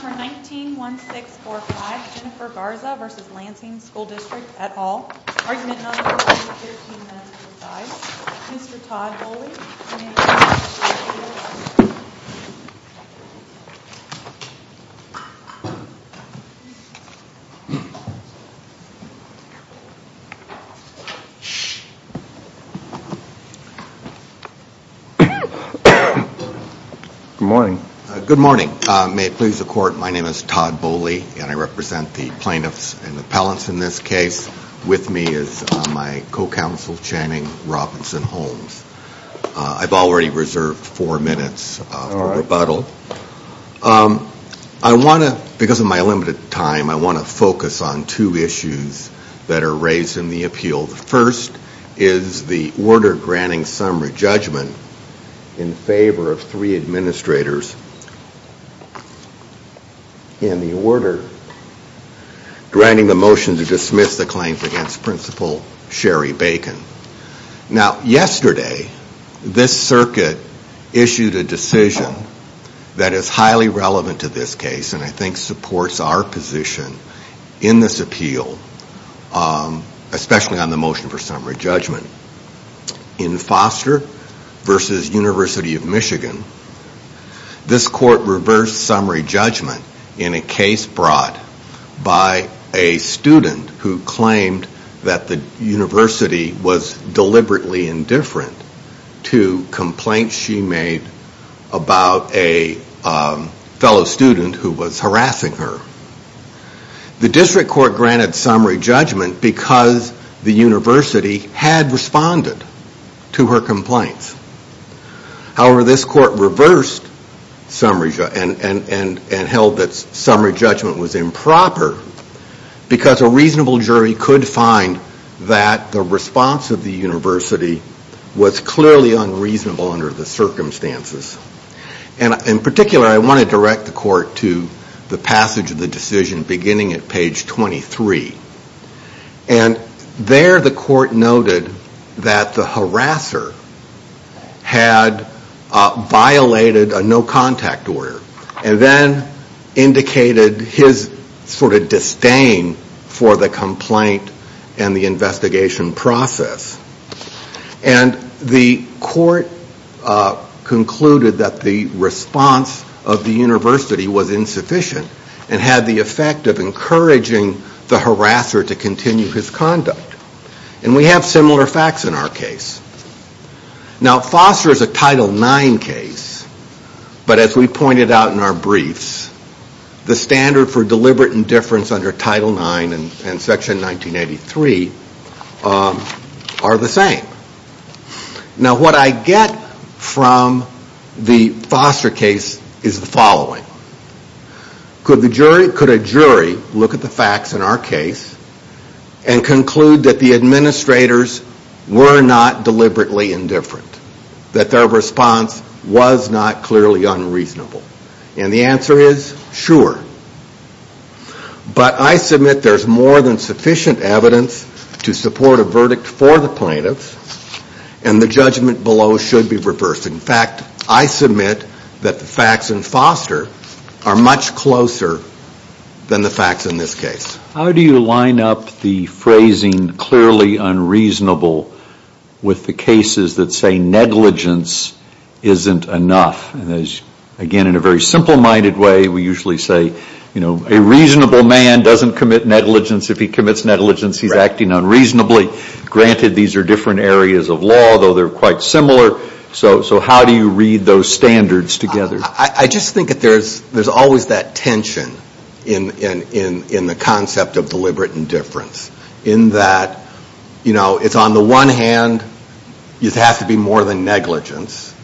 For 19-1645, Jennifer Garza v. Lansing School District, et al. Argument number 113-95. Mr. Todd Bowley. Good morning. Good morning. May it please the court, my name is Todd Bowley and I represent the plaintiffs and the appellants in this case. With me is my co-counsel Channing Robinson Holmes. I've already reserved four minutes for rebuttal. I want to, because of my limited time, I want to focus on two issues that are raised in the appeal. The first is the order granting summary judgment in favor of three administrators in the order granting the motion to dismiss the claims against Principal Sherry Bacon. Now yesterday, this circuit issued a decision that is highly relevant to this case and I think supports our position in this appeal, especially on the motion for summary judgment. In Foster v. University of Michigan, this court reversed summary judgment in a case brought by a student who claimed that the university was deliberately indifferent to complaints she made about a fellow student who was harassing her. The district court granted summary judgment because the university had responded to her complaints. However, this court reversed and held that summary judgment was improper because a reasonable jury could find that the response of the university was clearly unreasonable under the circumstances. In particular, I want to direct the court to the passage of the decision beginning at page 23. There the court noted that the harasser had violated a no contact order and then indicated his disdain for the complaint and the investigation process. And the court concluded that the response of the university was insufficient and had the effect of encouraging the harasser to continue his conduct. And we have similar facts in our case. Now Foster is a Title IX case, but as we pointed out in our briefs, the standard for deliberate indifference under Title IX and Section 1983 are the same. Now what I get from the Foster case is the following. Could a jury look at the facts in our case and conclude that the administrators were not deliberately indifferent? That their response was not clearly unreasonable? And the answer is, sure. But I submit there is more than sufficient evidence to support a verdict for the plaintiffs and the judgment below should be reversed. In fact, I submit that the facts in Foster are much closer than the facts in this case. How do you line up the phrasing clearly unreasonable with the cases that say negligence isn't enough? Again, in a very simple minded way, we usually say, you know, a reasonable man doesn't commit negligence. If he commits negligence, he's acting unreasonably. Granted, these are different areas of law, though they're quite similar. So how do you read those standards together? I just think that there's always that tension in the concept of deliberate indifference. In that, you know, it's on the one hand, it has to be more than negligence.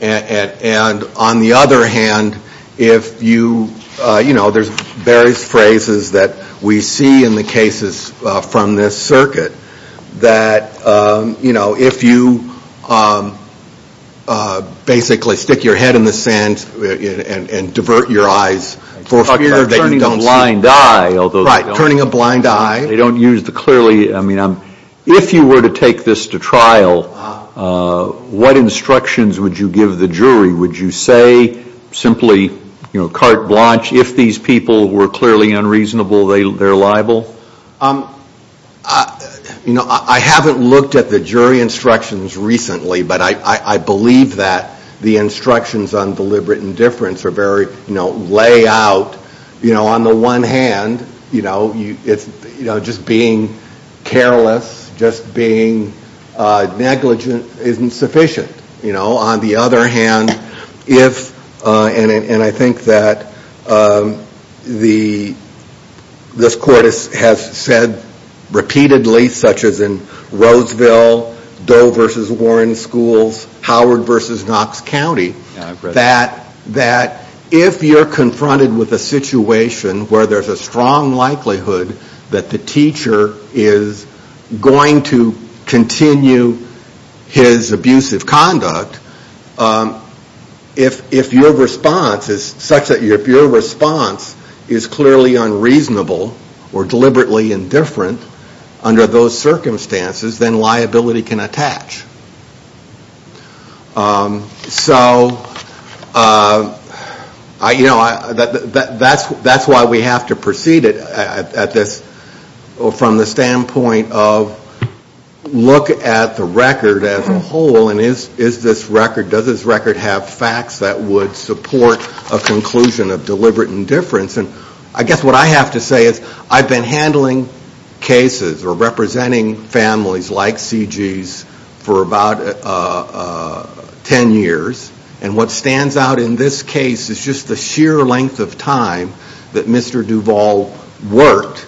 And on the other hand, if you, you know, there's various phrases that we see in the cases from this circuit that, you know, if you basically stick your head in the sand, and divert your eyes for fear that you don't see. Turning a blind eye. Right, turning a blind eye. They don't use the clearly, I mean, if you were to take this to trial, what instructions would you give the jury? Would you say simply, you know, carte blanche, if these people were clearly unreasonable, they're liable? You know, I haven't looked at the jury instructions recently, but I believe that the instructions on deliberate indifference are very, you know, lay out, you know, on the one hand, you know, just being careless, just being negligent isn't sufficient. You know, on the other hand, if, and I think that the, this court has said repeatedly, such as in Roseville, Doe versus Warren schools, Howard versus Knox County, that if you're confronted with a situation where there's a strong likelihood that the teacher is going to continue his abusive conduct, if your response is such that your response is clearly unreasonable or deliberately indifferent under those circumstances, then liability can attach. So, you know, that's why we have to proceed it at this, from the standpoint of look at the record as a whole, and is this record, does this record have facts that would support a conclusion of deliberate indifference? And I guess what I have to say is I've been handling cases or representing families like C.G.'s for about 10 years, and what stands out in this case is just the sheer length of time that Mr. Duvall worked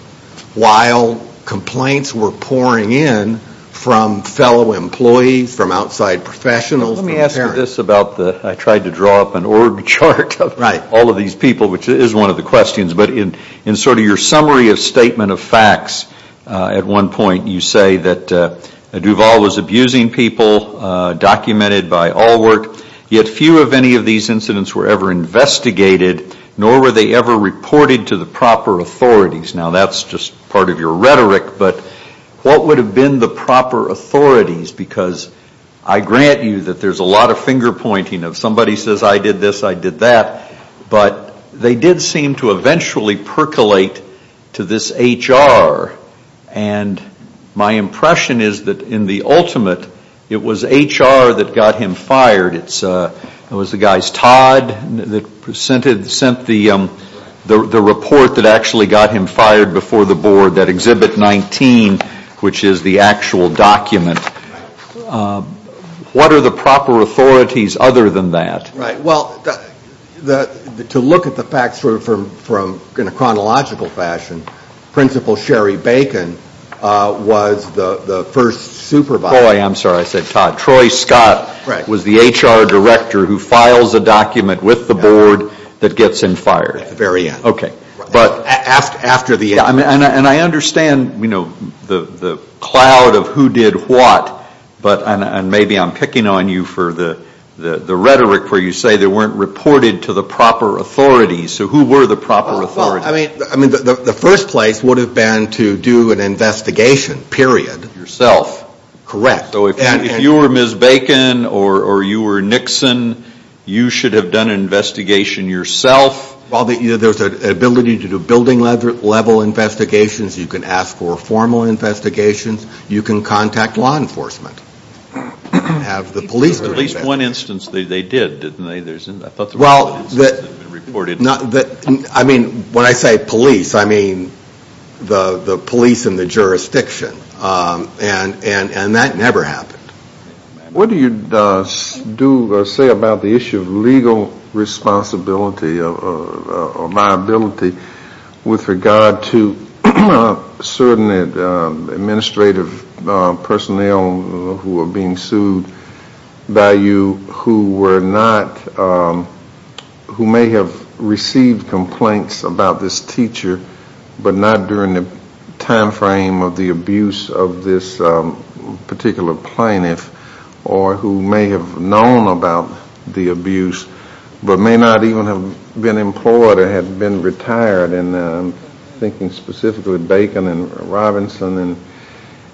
while complaints were pouring in from fellow employees, from outside professionals. Let me ask you this about the, I tried to draw up an org chart of all of these people, which is one of the questions, but in sort of your summary of statement of facts, at one point you say that Duvall was abusing people, documented by Alwort, yet few of any of these incidents were ever investigated, nor were they ever reported to the proper authorities. Now that's just part of your rhetoric, but what would have been the proper authorities, because I grant you that there's a lot of finger pointing of somebody says I did this, I did that, but they did seem to eventually percolate to this H.R., and my impression is that in the ultimate, it was H.R. that got him fired. It was the guys Todd that sent the report that actually got him fired before the board, that Exhibit 19, which is the actual document. What are the proper authorities other than that? Well, to look at the facts in a chronological fashion, Principal Sherry Bacon was the first supervisor. I'm sorry, I said Todd. Troy Scott was the H.R. director who files a document with the board that gets him fired. At the very end. And I understand the cloud of who did what, and maybe I'm picking on you for the rhetoric where you say they weren't reported to the proper authorities, so who were the proper authorities? The first place would have been to do an investigation, period. Yourself. Correct. So if you were Ms. Bacon or you were Nixon, you should have done an investigation yourself? Well, there's an ability to do building level investigations, you can ask for formal investigations, you can contact law enforcement. At least one instance they did, didn't they? Well, I mean, when I say police, I mean the police in the jurisdiction. And that never happened. What do you say about the issue of legal responsibility or liability with regard to certain administrative personnel who are being sued by you who may have received complaints about this teacher, but not during the time frame of the abuse of this particular plaintiff, or who may have known about the abuse, but may not even have been employed or had been retired. And I'm thinking specifically Bacon and Robinson, and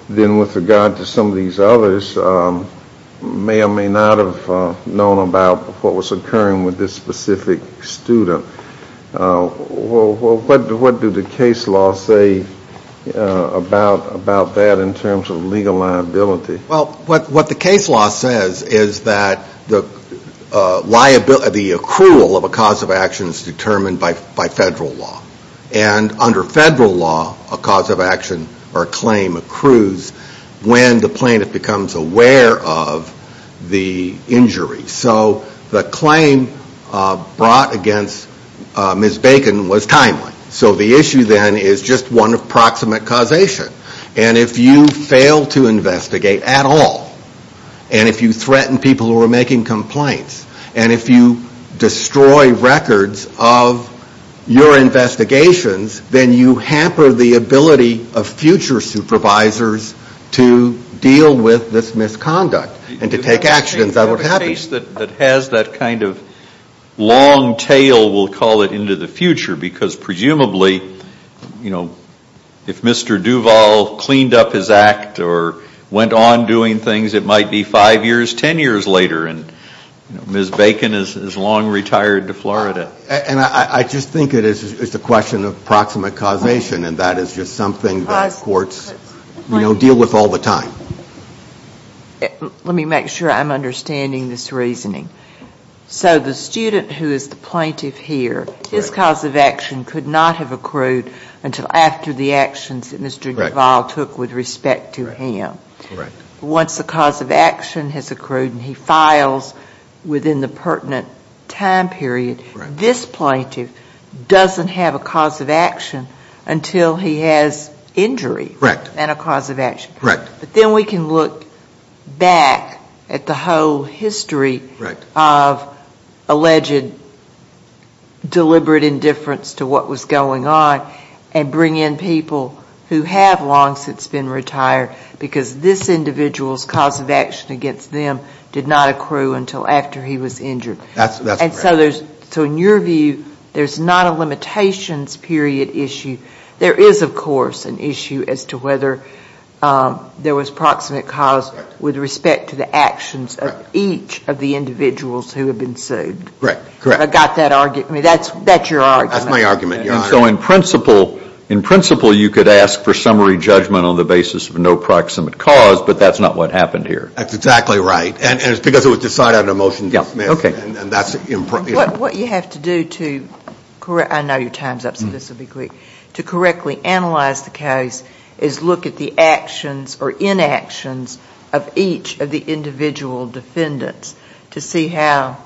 then with regard to some of these others, may or may not have known about what was occurring with this specific student. What do the case laws say about that in terms of legal liability? Well, what the case law says is that the accrual of a cause of action is determined by federal law. And under federal law, a cause of action or a claim accrues when the plaintiff becomes aware of the injury. So the claim brought against Ms. Bacon was timely. So the issue then is just one approximate causation. And if you fail to investigate at all, and if you threaten people who are making complaints, and if you destroy records of your investigations, then you hamper the ability of future supervisors to deal with this misconduct and to take action. If you have a case that has that kind of long tail, we'll call it into the future, because presumably, you know, if Mr. Duval cleaned up his act or went on doing things, it might be five years, ten years later, and Ms. Bacon is long retired to Florida. And I just think it is a question of approximate causation, and that is just something that courts, you know, deal with all the time. Let me make sure I'm understanding this reasoning. So the student who is the plaintiff here, his cause of action could not have accrued until after the actions that Mr. Duval took with respect to him. Once the cause of action has accrued and he files within the pertinent time period, this plaintiff doesn't have a cause of action until he has injury and a cause of action. Correct. But then we can look back at the whole history of alleged deliberate indifference to what was going on and bring in people who have long since been retired because this individual's cause of action against them did not accrue until after he was injured. That's correct. And so in your view, there's not a limitations period issue. There is, of course, an issue as to whether there was proximate cause with respect to the actions of each of the individuals who have been sued. Correct. I got that argument. That's your argument. That's my argument. And so in principle, you could ask for summary judgment on the basis of no proximate cause, but that's not what happened here. That's exactly right. And it's because it was decided on a motion to dismiss. Okay. What you have to do to, I know your time's up specifically, to correctly analyze the case is look at the actions or inactions of each of the individual defendants to see how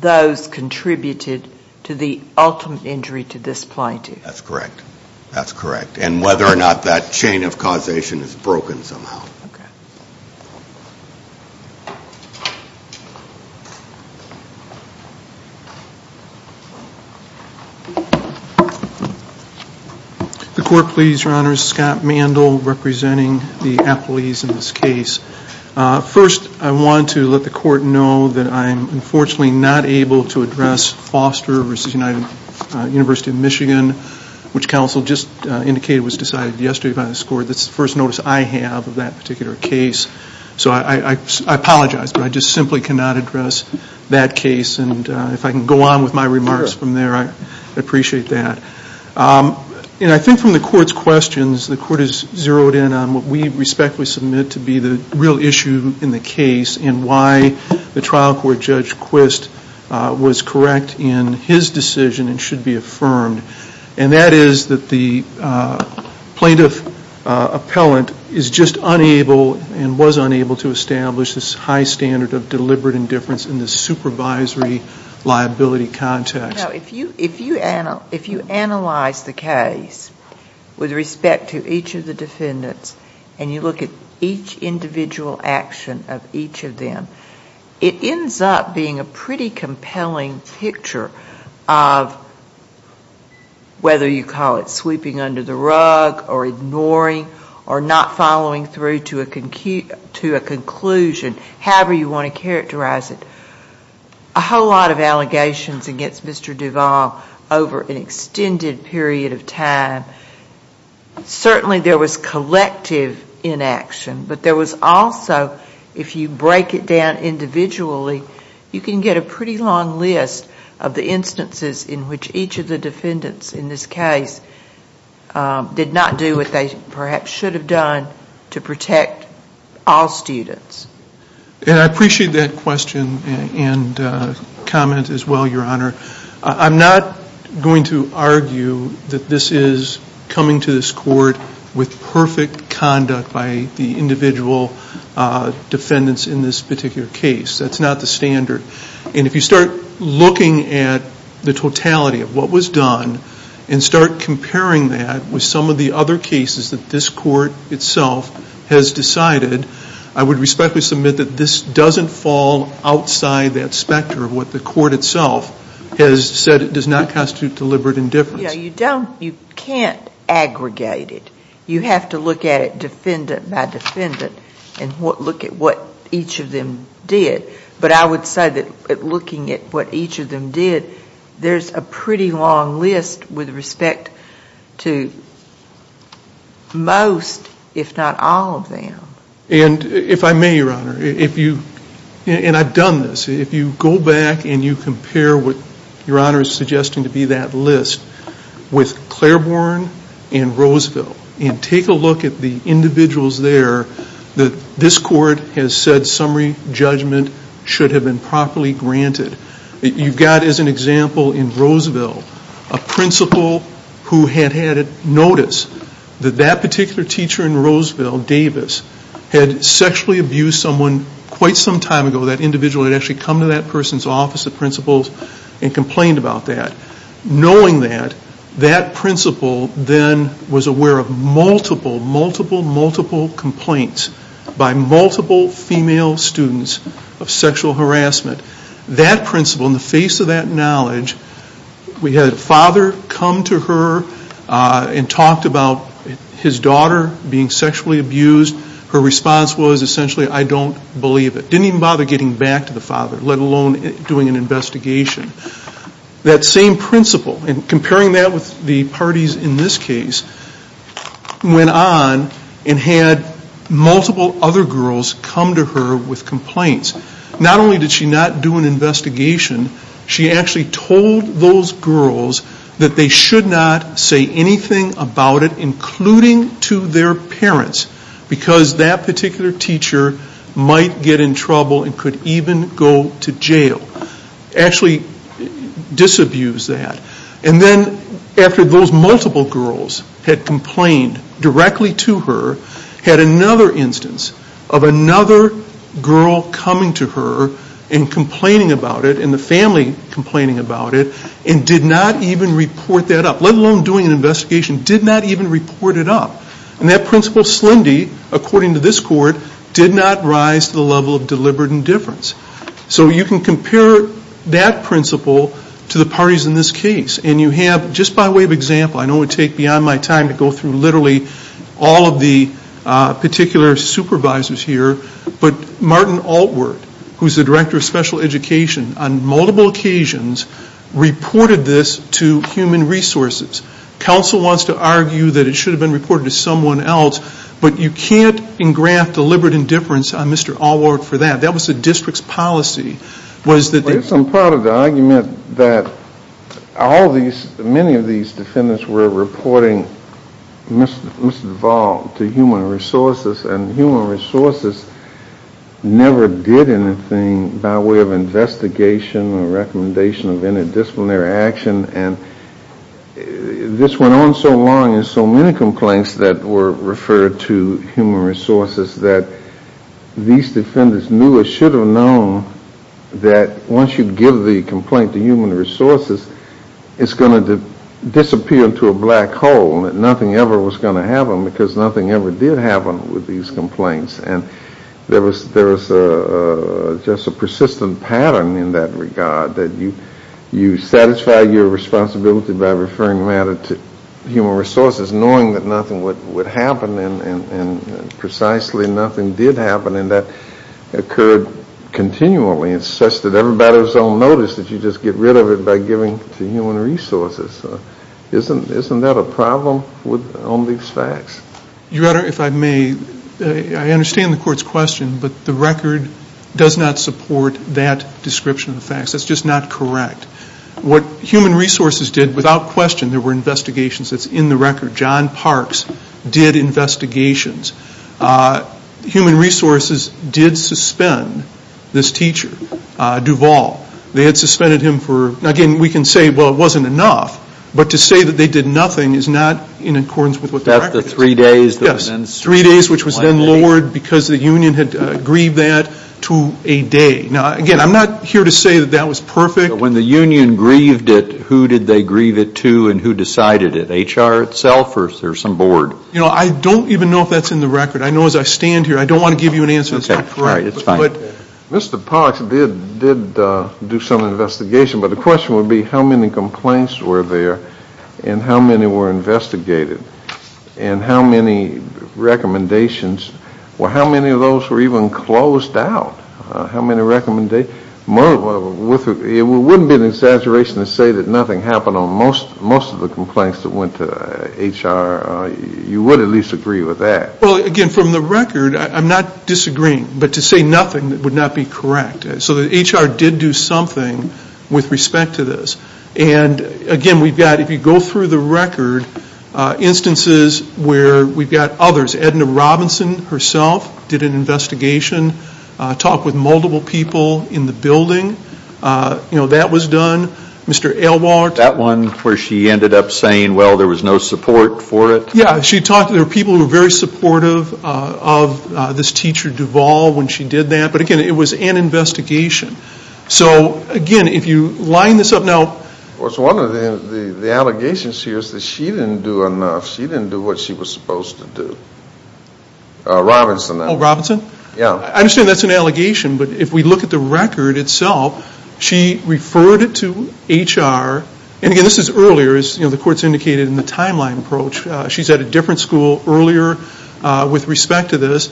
those contributed to the ultimate injury to this plaintiff. That's correct. That's correct. And whether or not that chain of causation is broken somehow. Okay. Thank you. The court, please. Your Honor, Scott Mandel representing the appellees in this case. First, I want to let the court know that I'm unfortunately not able to address Foster v. United University of Michigan, which counsel just indicated was decided yesterday by this court. That's the first notice I have of that particular case. So I apologize, but I just simply cannot address that case. And if I can go on with my remarks from there, I'd appreciate that. And I think from the court's questions, the court has zeroed in on what we respectfully submit to be the real issue in the case and why the trial court Judge Quist was correct in his decision and should be affirmed. And that is that the plaintiff appellant is just unable and was unable to establish this high standard of deliberate indifference in the supervisory liability context. If you analyze the case with respect to each of the defendants and you look at each individual action of each of them, it ends up being a pretty compelling picture of whether you call it sweeping under the rug or ignoring or not following through to a conclusion, however you want to characterize it. A whole lot of allegations against Mr. Duval over an extended period of time. Certainly there was collective inaction, but there was also, if you break it down individually, you can get a pretty long list of the instances in which each of the defendants in this case did not do what they perhaps should have done to protect all students. And I appreciate that question and comment as well, Your Honor. I'm not going to argue that this is coming to this court with perfect conduct by the individual defendants in this particular case. That's not the standard. And if you start looking at the totality of what was done and start comparing that with some of the other cases that this court itself has decided, I would respectfully submit that this doesn't fall outside that specter of what the court itself has said it does not constitute deliberate indifference. You can't aggregate it. You have to look at it defendant by defendant and look at what each of them did. But I would say that looking at what each of them did, there's a pretty long list with respect to most, if not all, of them. And if I may, Your Honor, and I've done this, if you go back and you compare what Your Honor is suggesting to be that list with Claiborne and Roseville and take a look at the individuals there that this court has said summary judgment should have been properly granted, you've got as an example in Roseville a principal who had had notice that that particular teacher in Roseville, Davis, had sexually abused someone quite some time ago. That individual had actually come to that person's office of principals and complained about that. Knowing that, that principal then was aware of multiple, multiple, multiple complaints by multiple female students of sexual harassment. That principal, in the face of that knowledge, we had a father come to her and talked about his daughter being sexually abused. Her response was essentially, I don't believe it. Didn't even bother getting back to the father, let alone doing an investigation. That same principal, and comparing that with the parties in this case, went on and had multiple other girls come to her with complaints. Not only did she not do an investigation, she actually told those girls that they should not say anything about it, including to their parents, because that particular teacher might get in trouble and could even go to jail. Actually disabused that. And then after those multiple girls had complained directly to her, had another instance of another girl coming to her and complaining about it and the family complaining about it, and did not even report that up, let alone doing an investigation, did not even report it up. And that principal, Slendy, according to this court, did not rise to the level of deliberate indifference. So you can compare that principal to the parties in this case. And you have, just by way of example, I know it would take beyond my time to go through literally all of the particular supervisors here, but Martin Altward, who is the Director of Special Education, on multiple occasions reported this to Human Resources. Counsel wants to argue that it should have been reported to someone else, but you can't engraft deliberate indifference on Mr. Altward for that. That was the district's policy. I'm proud of the argument that all these, many of these defendants were reporting misdevolved to Human Resources, and Human Resources never did anything by way of investigation or recommendation of interdisciplinary action. And this went on so long and so many complaints that were referred to Human Resources that these defendants knew or should have known that once you give the complaint to Human Resources, it's going to disappear into a black hole, that nothing ever was going to happen because nothing ever did happen with these complaints. And there was just a persistent pattern in that regard, that you satisfy your responsibility by referring matter to Human Resources, knowing that nothing would happen, and precisely nothing did happen, and that occurred continually. It's such that everybody's on notice that you just get rid of it by giving it to Human Resources. Isn't that a problem on these facts? Your Honor, if I may, I understand the Court's question, but the record does not support that description of the facts. That's just not correct. What Human Resources did without question, there were investigations that's in the record. John Parks did investigations. Human Resources did suspend this teacher, Duvall. They had suspended him for, again, we can say, well, it wasn't enough, but to say that they did nothing is not in accordance with what the record says. That's the three days that was then suspended. Yes, three days, which was then lowered because the union had aggrieved that to a day. Now, again, I'm not here to say that that was perfect. When the union aggrieved it, who did they aggrieve it to and who decided it, HR itself or some board? I don't even know if that's in the record. I know as I stand here I don't want to give you an answer that's not correct. All right, it's fine. Mr. Parks did do some investigation, but the question would be how many complaints were there and how many were investigated and how many recommendations, or how many of those were even closed out, how many recommendations. It wouldn't be an exaggeration to say that nothing happened on most of the complaints that went to HR. You would at least agree with that. Well, again, from the record, I'm not disagreeing. But to say nothing would not be correct. So the HR did do something with respect to this. And, again, we've got, if you go through the record, instances where we've got others. Ms. Edna Robinson herself did an investigation, talked with multiple people in the building. You know, that was done. Mr. Elwhart. That one where she ended up saying, well, there was no support for it? Yeah, she talked to people who were very supportive of this teacher Duvall when she did that. But, again, it was an investigation. So, again, if you line this up now. Well, it's one of the allegations here is that she didn't do enough. She didn't do what she was supposed to do. Robinson. Oh, Robinson? Yeah. I understand that's an allegation. But if we look at the record itself, she referred it to HR. And, again, this is earlier, as the court's indicated in the timeline approach. She's at a different school earlier with respect to this.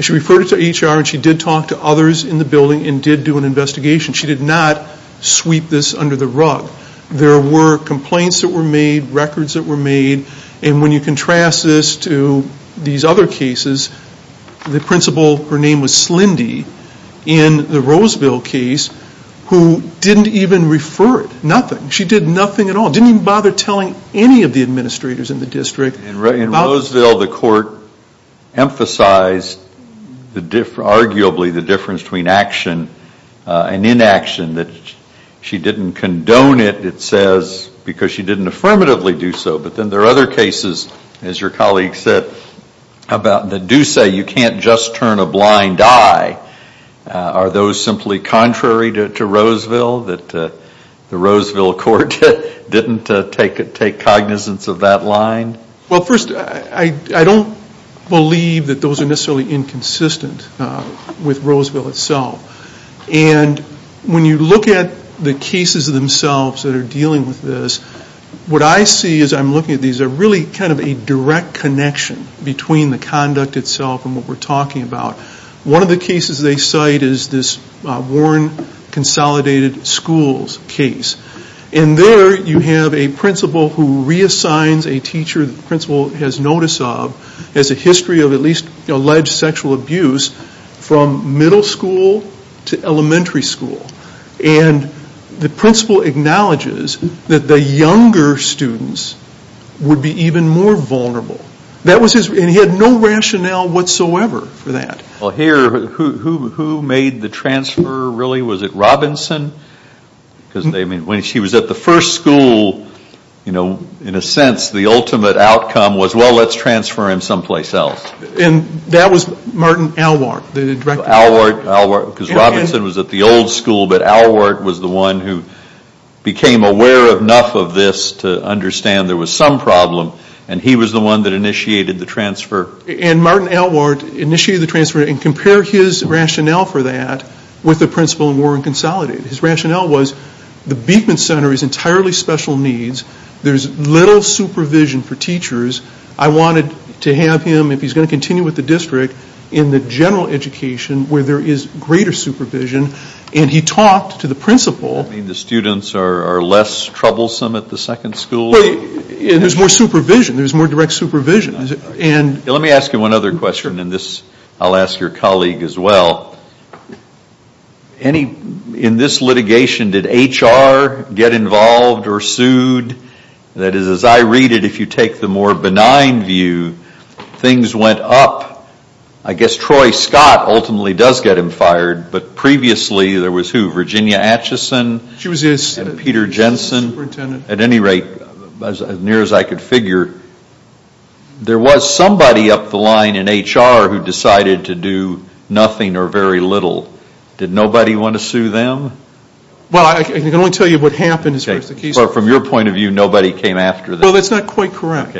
She referred it to HR, and she did talk to others in the building and did do an investigation. She did not sweep this under the rug. There were complaints that were made, records that were made. And when you contrast this to these other cases, the principal, her name was Slindy, in the Roseville case, who didn't even refer it. Nothing. She did nothing at all. Didn't even bother telling any of the administrators in the district. In Roseville, the court emphasized arguably the difference between action and inaction, that she didn't condone it, it says, because she didn't affirmatively do so. But then there are other cases, as your colleague said, that do say you can't just turn a blind eye. Are those simply contrary to Roseville, that the Roseville court didn't take cognizance of that line? Well, first, I don't believe that those are necessarily inconsistent with Roseville itself. And when you look at the cases themselves that are dealing with this, what I see as I'm looking at these are really kind of a direct connection between the conduct itself and what we're talking about. One of the cases they cite is this Warren Consolidated Schools case. And there you have a principal who reassigns a teacher the principal has notice of, has a history of at least alleged sexual abuse from middle school to elementary school. And the principal acknowledges that the younger students would be even more vulnerable. And he had no rationale whatsoever for that. Well, here, who made the transfer, really? Was it Robinson? Because when she was at the first school, in a sense, the ultimate outcome was, well, let's transfer him someplace else. And that was Martin Alwart, the director. Alwart, because Robinson was at the old school, but Alwart was the one who became aware enough of this to understand there was some problem, and he was the one that initiated the transfer. And Martin Alwart initiated the transfer, and compare his rationale for that with the principal in Warren Consolidated. His rationale was the Beekman Center is entirely special needs. There's little supervision for teachers. I wanted to have him, if he's going to continue with the district, in the general education where there is greater supervision. And he talked to the principal. You mean the students are less troublesome at the second school? There's more supervision. There's more direct supervision. Let me ask you one other question, and I'll ask your colleague as well. In this litigation, did HR get involved or sued? That is, as I read it, if you take the more benign view, things went up. I guess Troy Scott ultimately does get him fired, but previously there was who? She was the assistant superintendent. At any rate, as near as I could figure, there was somebody up the line in HR who decided to do nothing or very little. Did nobody want to sue them? Well, I can only tell you what happened as far as the case goes. From your point of view, nobody came after them. Well, that's not quite correct.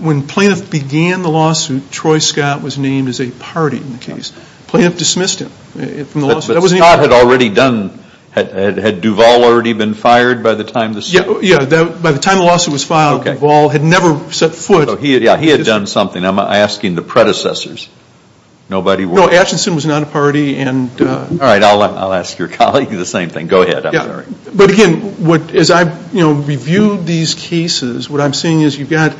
When Plaintiff began the lawsuit, Troy Scott was named as a party in the case. Plaintiff dismissed him from the lawsuit. But Scott had already done, had Duval already been fired by the time the suit? Yeah, by the time the lawsuit was filed, Duval had never set foot. Yeah, he had done something. I'm asking the predecessors. Nobody was. No, Ashton was not a party. All right, I'll ask your colleague the same thing. Go ahead. But again, as I review these cases, what I'm seeing is you've got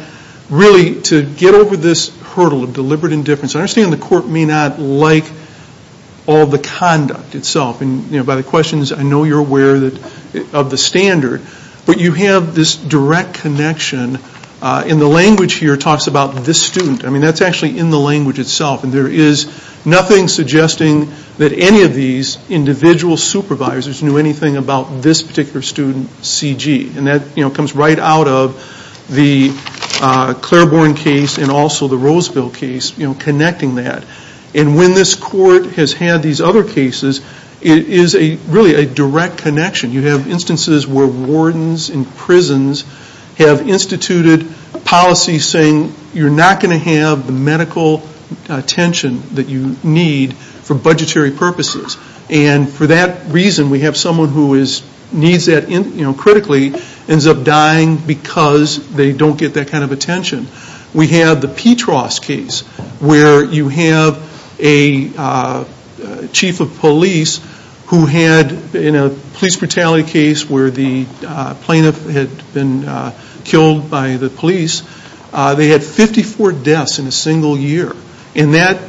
really to get over this hurdle of deliberate indifference. I understand the court may not like all the conduct itself. And by the questions, I know you're aware of the standard. But you have this direct connection. And the language here talks about this student. I mean, that's actually in the language itself. And there is nothing suggesting that any of these individual supervisors knew anything about this particular student, C.G. And that comes right out of the Claiborne case and also the Roseville case connecting that. And when this court has had these other cases, it is really a direct connection. You have instances where wardens in prisons have instituted policies saying you're not going to have the medical attention that you need for budgetary purposes. And for that reason, we have someone who needs that critically ends up dying because they don't get that kind of attention. We have the Petros case where you have a chief of police who had, in a police brutality case where the plaintiff had been killed by the police, they had 54 deaths in a single year. And that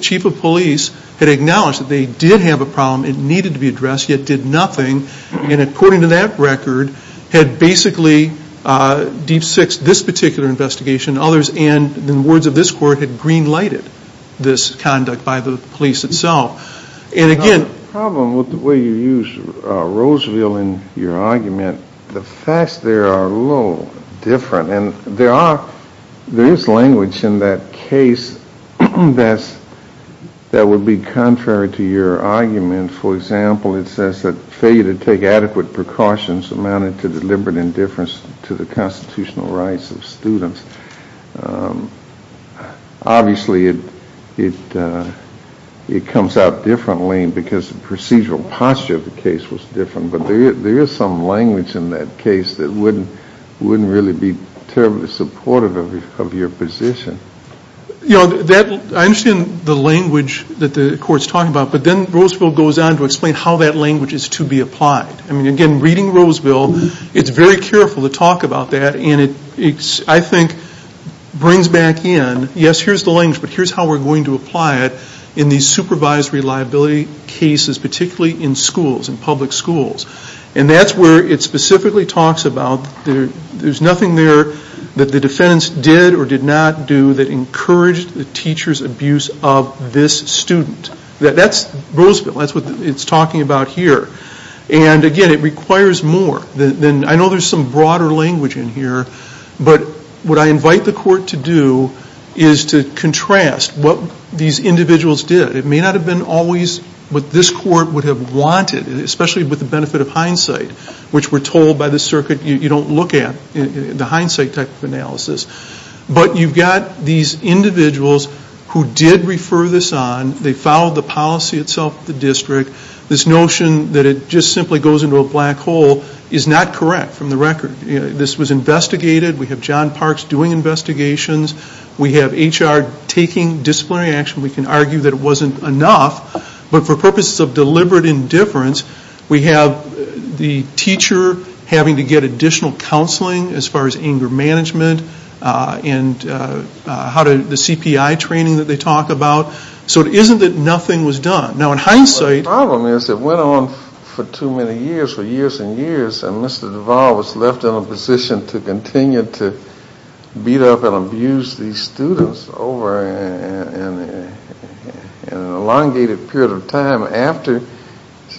chief of police had acknowledged that they did have a problem. It needed to be addressed, yet did nothing. And according to that record, had basically deep-sixed this particular investigation and others. And the wards of this court had green-lighted this conduct by the police itself. And again... The problem with the way you use Roseville in your argument, the facts there are a little different. And there is language in that case that would be contrary to your argument. For example, it says that failure to take adequate precautions amounted to deliberate indifference to the constitutional rights of students. Obviously, it comes out differently because the procedural posture of the case was different. But there is some language in that case that wouldn't really be terribly supportive of your position. I understand the language that the court is talking about. But then Roseville goes on to explain how that language is to be applied. Again, reading Roseville, it's very careful to talk about that. I think it brings back in, yes, here's the language, but here's how we're going to apply it in these supervised reliability cases, particularly in schools, in public schools. And that's where it specifically talks about there's nothing there that the defendants did or did not do that encouraged the teacher's abuse of this student. That's Roseville. That's what it's talking about here. And, again, it requires more. I know there's some broader language in here, but what I invite the court to do is to contrast what these individuals did. It may not have been always what this court would have wanted, especially with the benefit of hindsight, which we're told by the circuit you don't look at, the hindsight type of analysis. But you've got these individuals who did refer this on. They followed the policy itself of the district. This notion that it just simply goes into a black hole is not correct from the record. This was investigated. We have John Parks doing investigations. We have HR taking disciplinary action. We can argue that it wasn't enough, but for purposes of deliberate indifference, we have the teacher having to get additional counseling as far as anger management and the CPI training that they talk about. So it isn't that nothing was done. Now, in hindsight The problem is it went on for too many years, for years and years, and Mr. Duval was left in a position to continue to beat up and abuse these students over an elongated period of time after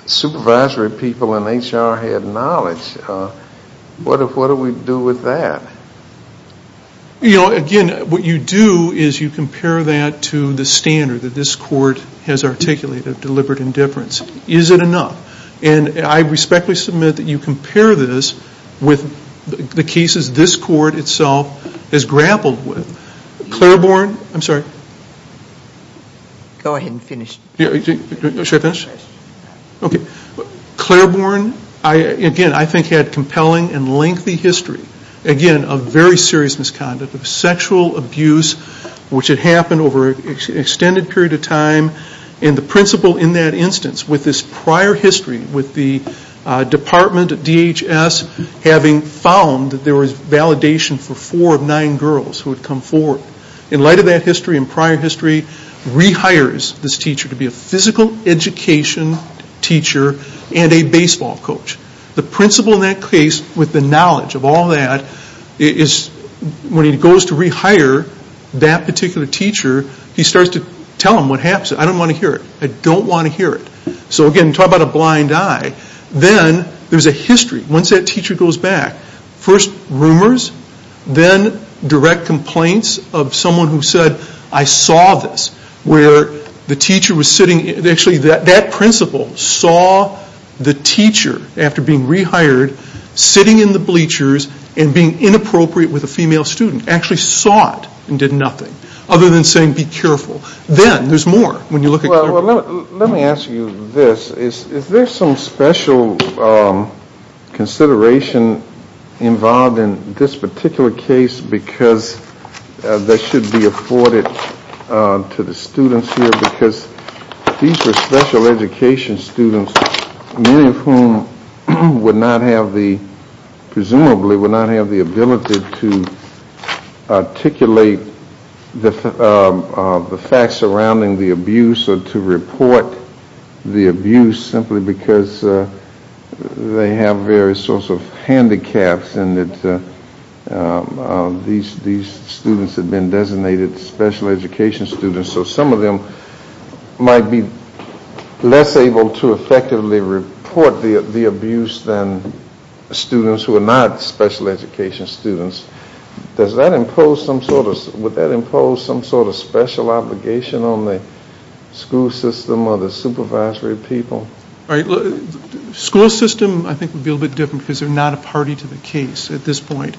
supervisory people and HR had knowledge. What do we do with that? You know, again, what you do is you compare that to the standard that this court has articulated, deliberate indifference. Is it enough? And I respectfully submit that you compare this with the cases this court itself has grappled with. Clareborn, I'm sorry. Go ahead and finish. Should I finish? Yes. Okay. Clareborn, again, I think had compelling and lengthy history, again, of very serious misconduct, of sexual abuse, which had happened over an extended period of time, and the principal in that instance, with this prior history with the department at DHS having found that there was validation for four of nine girls who had come forward. In light of that history and prior history, rehires this teacher to be a physical education teacher and a baseball coach. The principal in that case, with the knowledge of all that, when he goes to rehire that particular teacher, he starts to tell them what happens. I don't want to hear it. I don't want to hear it. So, again, talk about a blind eye. Then there's a history. Once that teacher goes back, first rumors, then direct complaints of someone who said, I saw this, where the teacher was sitting. Actually, that principal saw the teacher, after being rehired, sitting in the bleachers and being inappropriate with a female student, actually saw it and did nothing, other than saying, be careful. Then there's more when you look at Clareborn. Well, let me ask you this. Is there some special consideration involved in this particular case because that should be afforded to the students here? Because these were special education students, many of whom would not have the, presumably, would not have the ability to articulate the facts surrounding the abuse or to report the abuse, simply because they have various sorts of handicaps and these students had been designated special education students. So some of them might be less able to effectively report the abuse than students who are not special education students. Does that impose some sort of, would that impose some sort of special obligation on the school system or the supervisory people? School system, I think, would be a little bit different because they're not a party to the case at this point.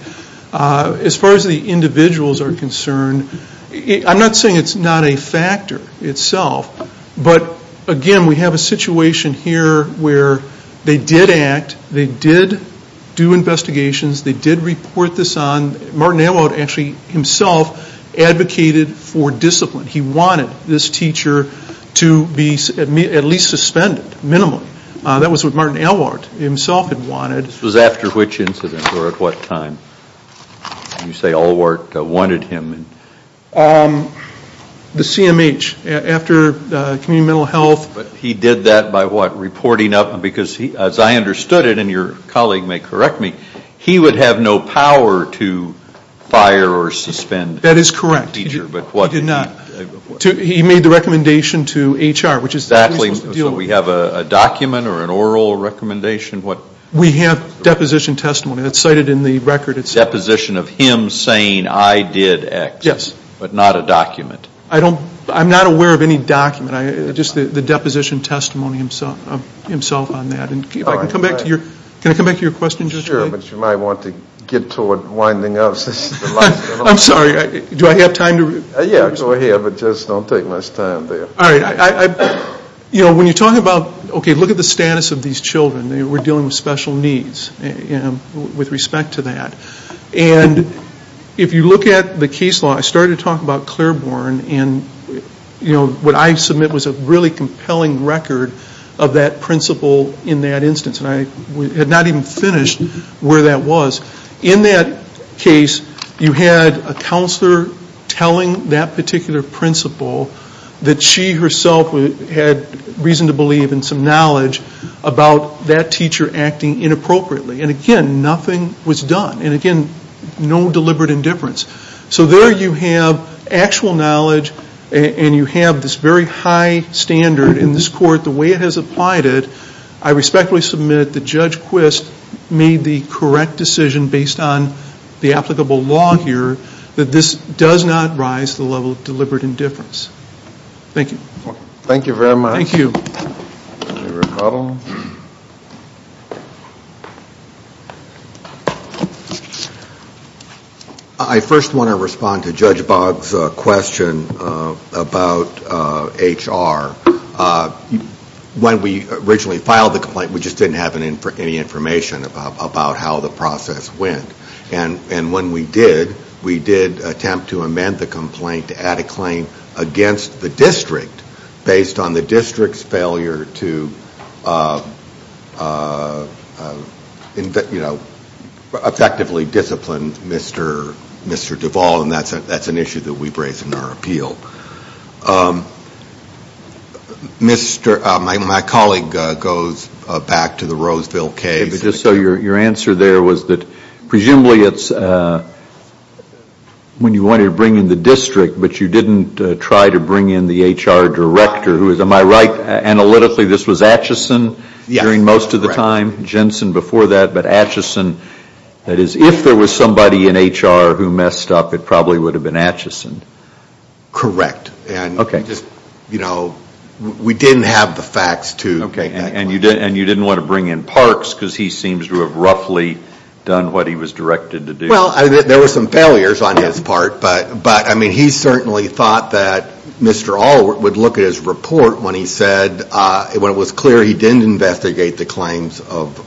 As far as the individuals are concerned, I'm not saying it's not a factor itself, but, again, we have a situation here where they did act, they did do investigations, they did report this on. Martin Alwart actually himself advocated for discipline. He wanted this teacher to be at least suspended, minimally. That was what Martin Alwart himself had wanted. This was after which incident or at what time? You say Alwart wanted him. The CMH, after community mental health. But he did that by what, reporting up? Because as I understood it, and your colleague may correct me, he would have no power to fire or suspend a teacher. That is correct. But what did he do? He did not. He made the recommendation to HR. Exactly. So we have a document or an oral recommendation? We have deposition testimony that's cited in the record. Deposition of him saying I did X. Yes. But not a document. I'm not aware of any document. Just the deposition testimony himself on that. Can I come back to your question? Sure, but you might want to get toward winding up. I'm sorry. Do I have time to? Yeah, go ahead, but just don't take much time there. All right. You know, when you're talking about, okay, look at the status of these children. They were dealing with special needs with respect to that. And if you look at the case law, I started talking about Claiborne, and what I submit was a really compelling record of that principle in that instance. And I had not even finished where that was. In that case, you had a counselor telling that particular principle that she herself had reason to believe and some knowledge about that teacher acting inappropriately. And, again, nothing was done. And, again, no deliberate indifference. So there you have actual knowledge, and you have this very high standard in this court, the way it has applied it. I respectfully submit that Judge Quist made the correct decision based on the applicable law here that this does not rise to the level of deliberate indifference. Thank you. Thank you very much. Thank you. Any rebuttal? I first want to respond to Judge Boggs' question about HR. When we originally filed the complaint, we just didn't have any information about how the process went. And when we did, we did attempt to amend the complaint to add a claim against the district based on the district's failure to effectively discipline Mr. Duvall, and that's an issue that we've raised in our appeal. My colleague goes back to the Roseville case. Your answer there was that presumably it's when you wanted to bring in the district, but you didn't try to bring in the HR director. Am I right? Analytically, this was Atchison during most of the time, Jensen before that, but Atchison. That is, if there was somebody in HR who messed up, it probably would have been Atchison. Correct. Okay. We didn't have the facts to make that claim. And you didn't want to bring in Parks because he seems to have roughly done what he was directed to do. Well, there were some failures on his part, but he certainly thought that Mr. Allward would look at his report when it was clear he didn't investigate the claims of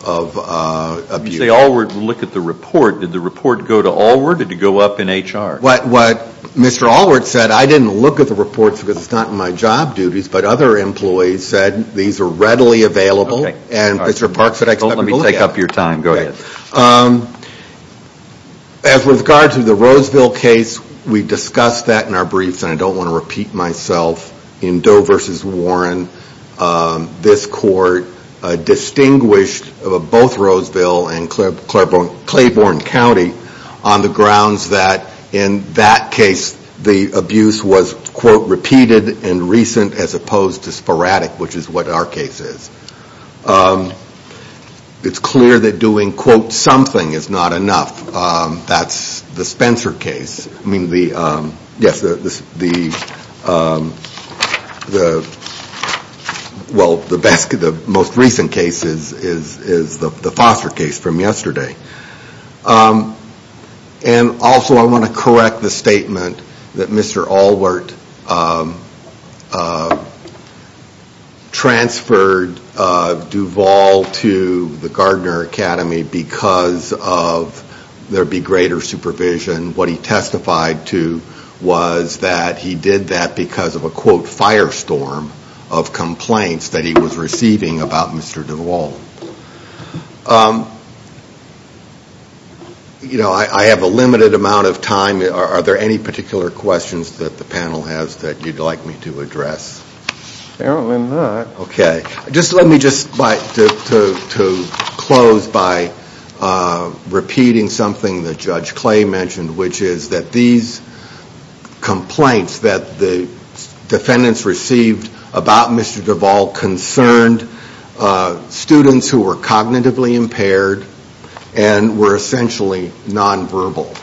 abuse. You say Allward would look at the report. Did the report go to Allward or did it go up in HR? What Mr. Allward said, I didn't look at the reports because it's not in my job duties, but other employees said these are readily available. Okay. And Mr. Parks said I could look at them. Don't let me take up your time. Go ahead. As regards to the Roseville case, we discussed that in our briefs, and I don't want to repeat myself. In Doe versus Warren, this court distinguished both Roseville and repeated and recent as opposed to sporadic, which is what our case is. It's clear that doing, quote, something is not enough. That's the Spencer case. I mean, yes, the most recent case is the Foster case from yesterday. And also I want to correct the statement that Mr. Allward transferred Duvall to the Gardner Academy because of there be greater supervision. What he testified to was that he did that because of a, quote, firestorm of I have a limited amount of time. Are there any particular questions that the panel has that you'd like me to address? Apparently not. Okay. Let me just like to close by repeating something that Judge Clay mentioned, which is that these complaints that the defendants received about Mr. Duvall concerned students who were cognitively impaired and were essentially nonverbal.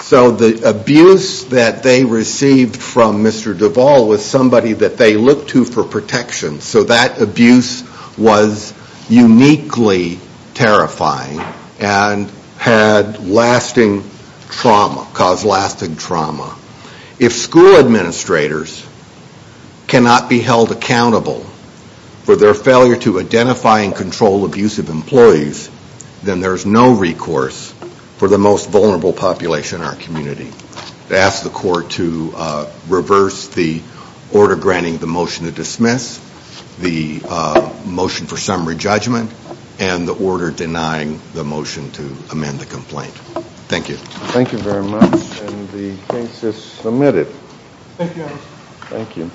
So the abuse that they received from Mr. Duvall was somebody that they looked to for protection. So that abuse was uniquely terrifying and had lasting trauma, caused lasting trauma. If school administrators cannot be held accountable for their failure to identify and control abusive employees, then there's no recourse for the most vulnerable population in our community. I ask the court to reverse the order granting the motion to dismiss, the motion for summary judgment, and the order denying the motion to amend the complaint. Thank you. Thank you very much. And the case is submitted. Thank you. Thank you.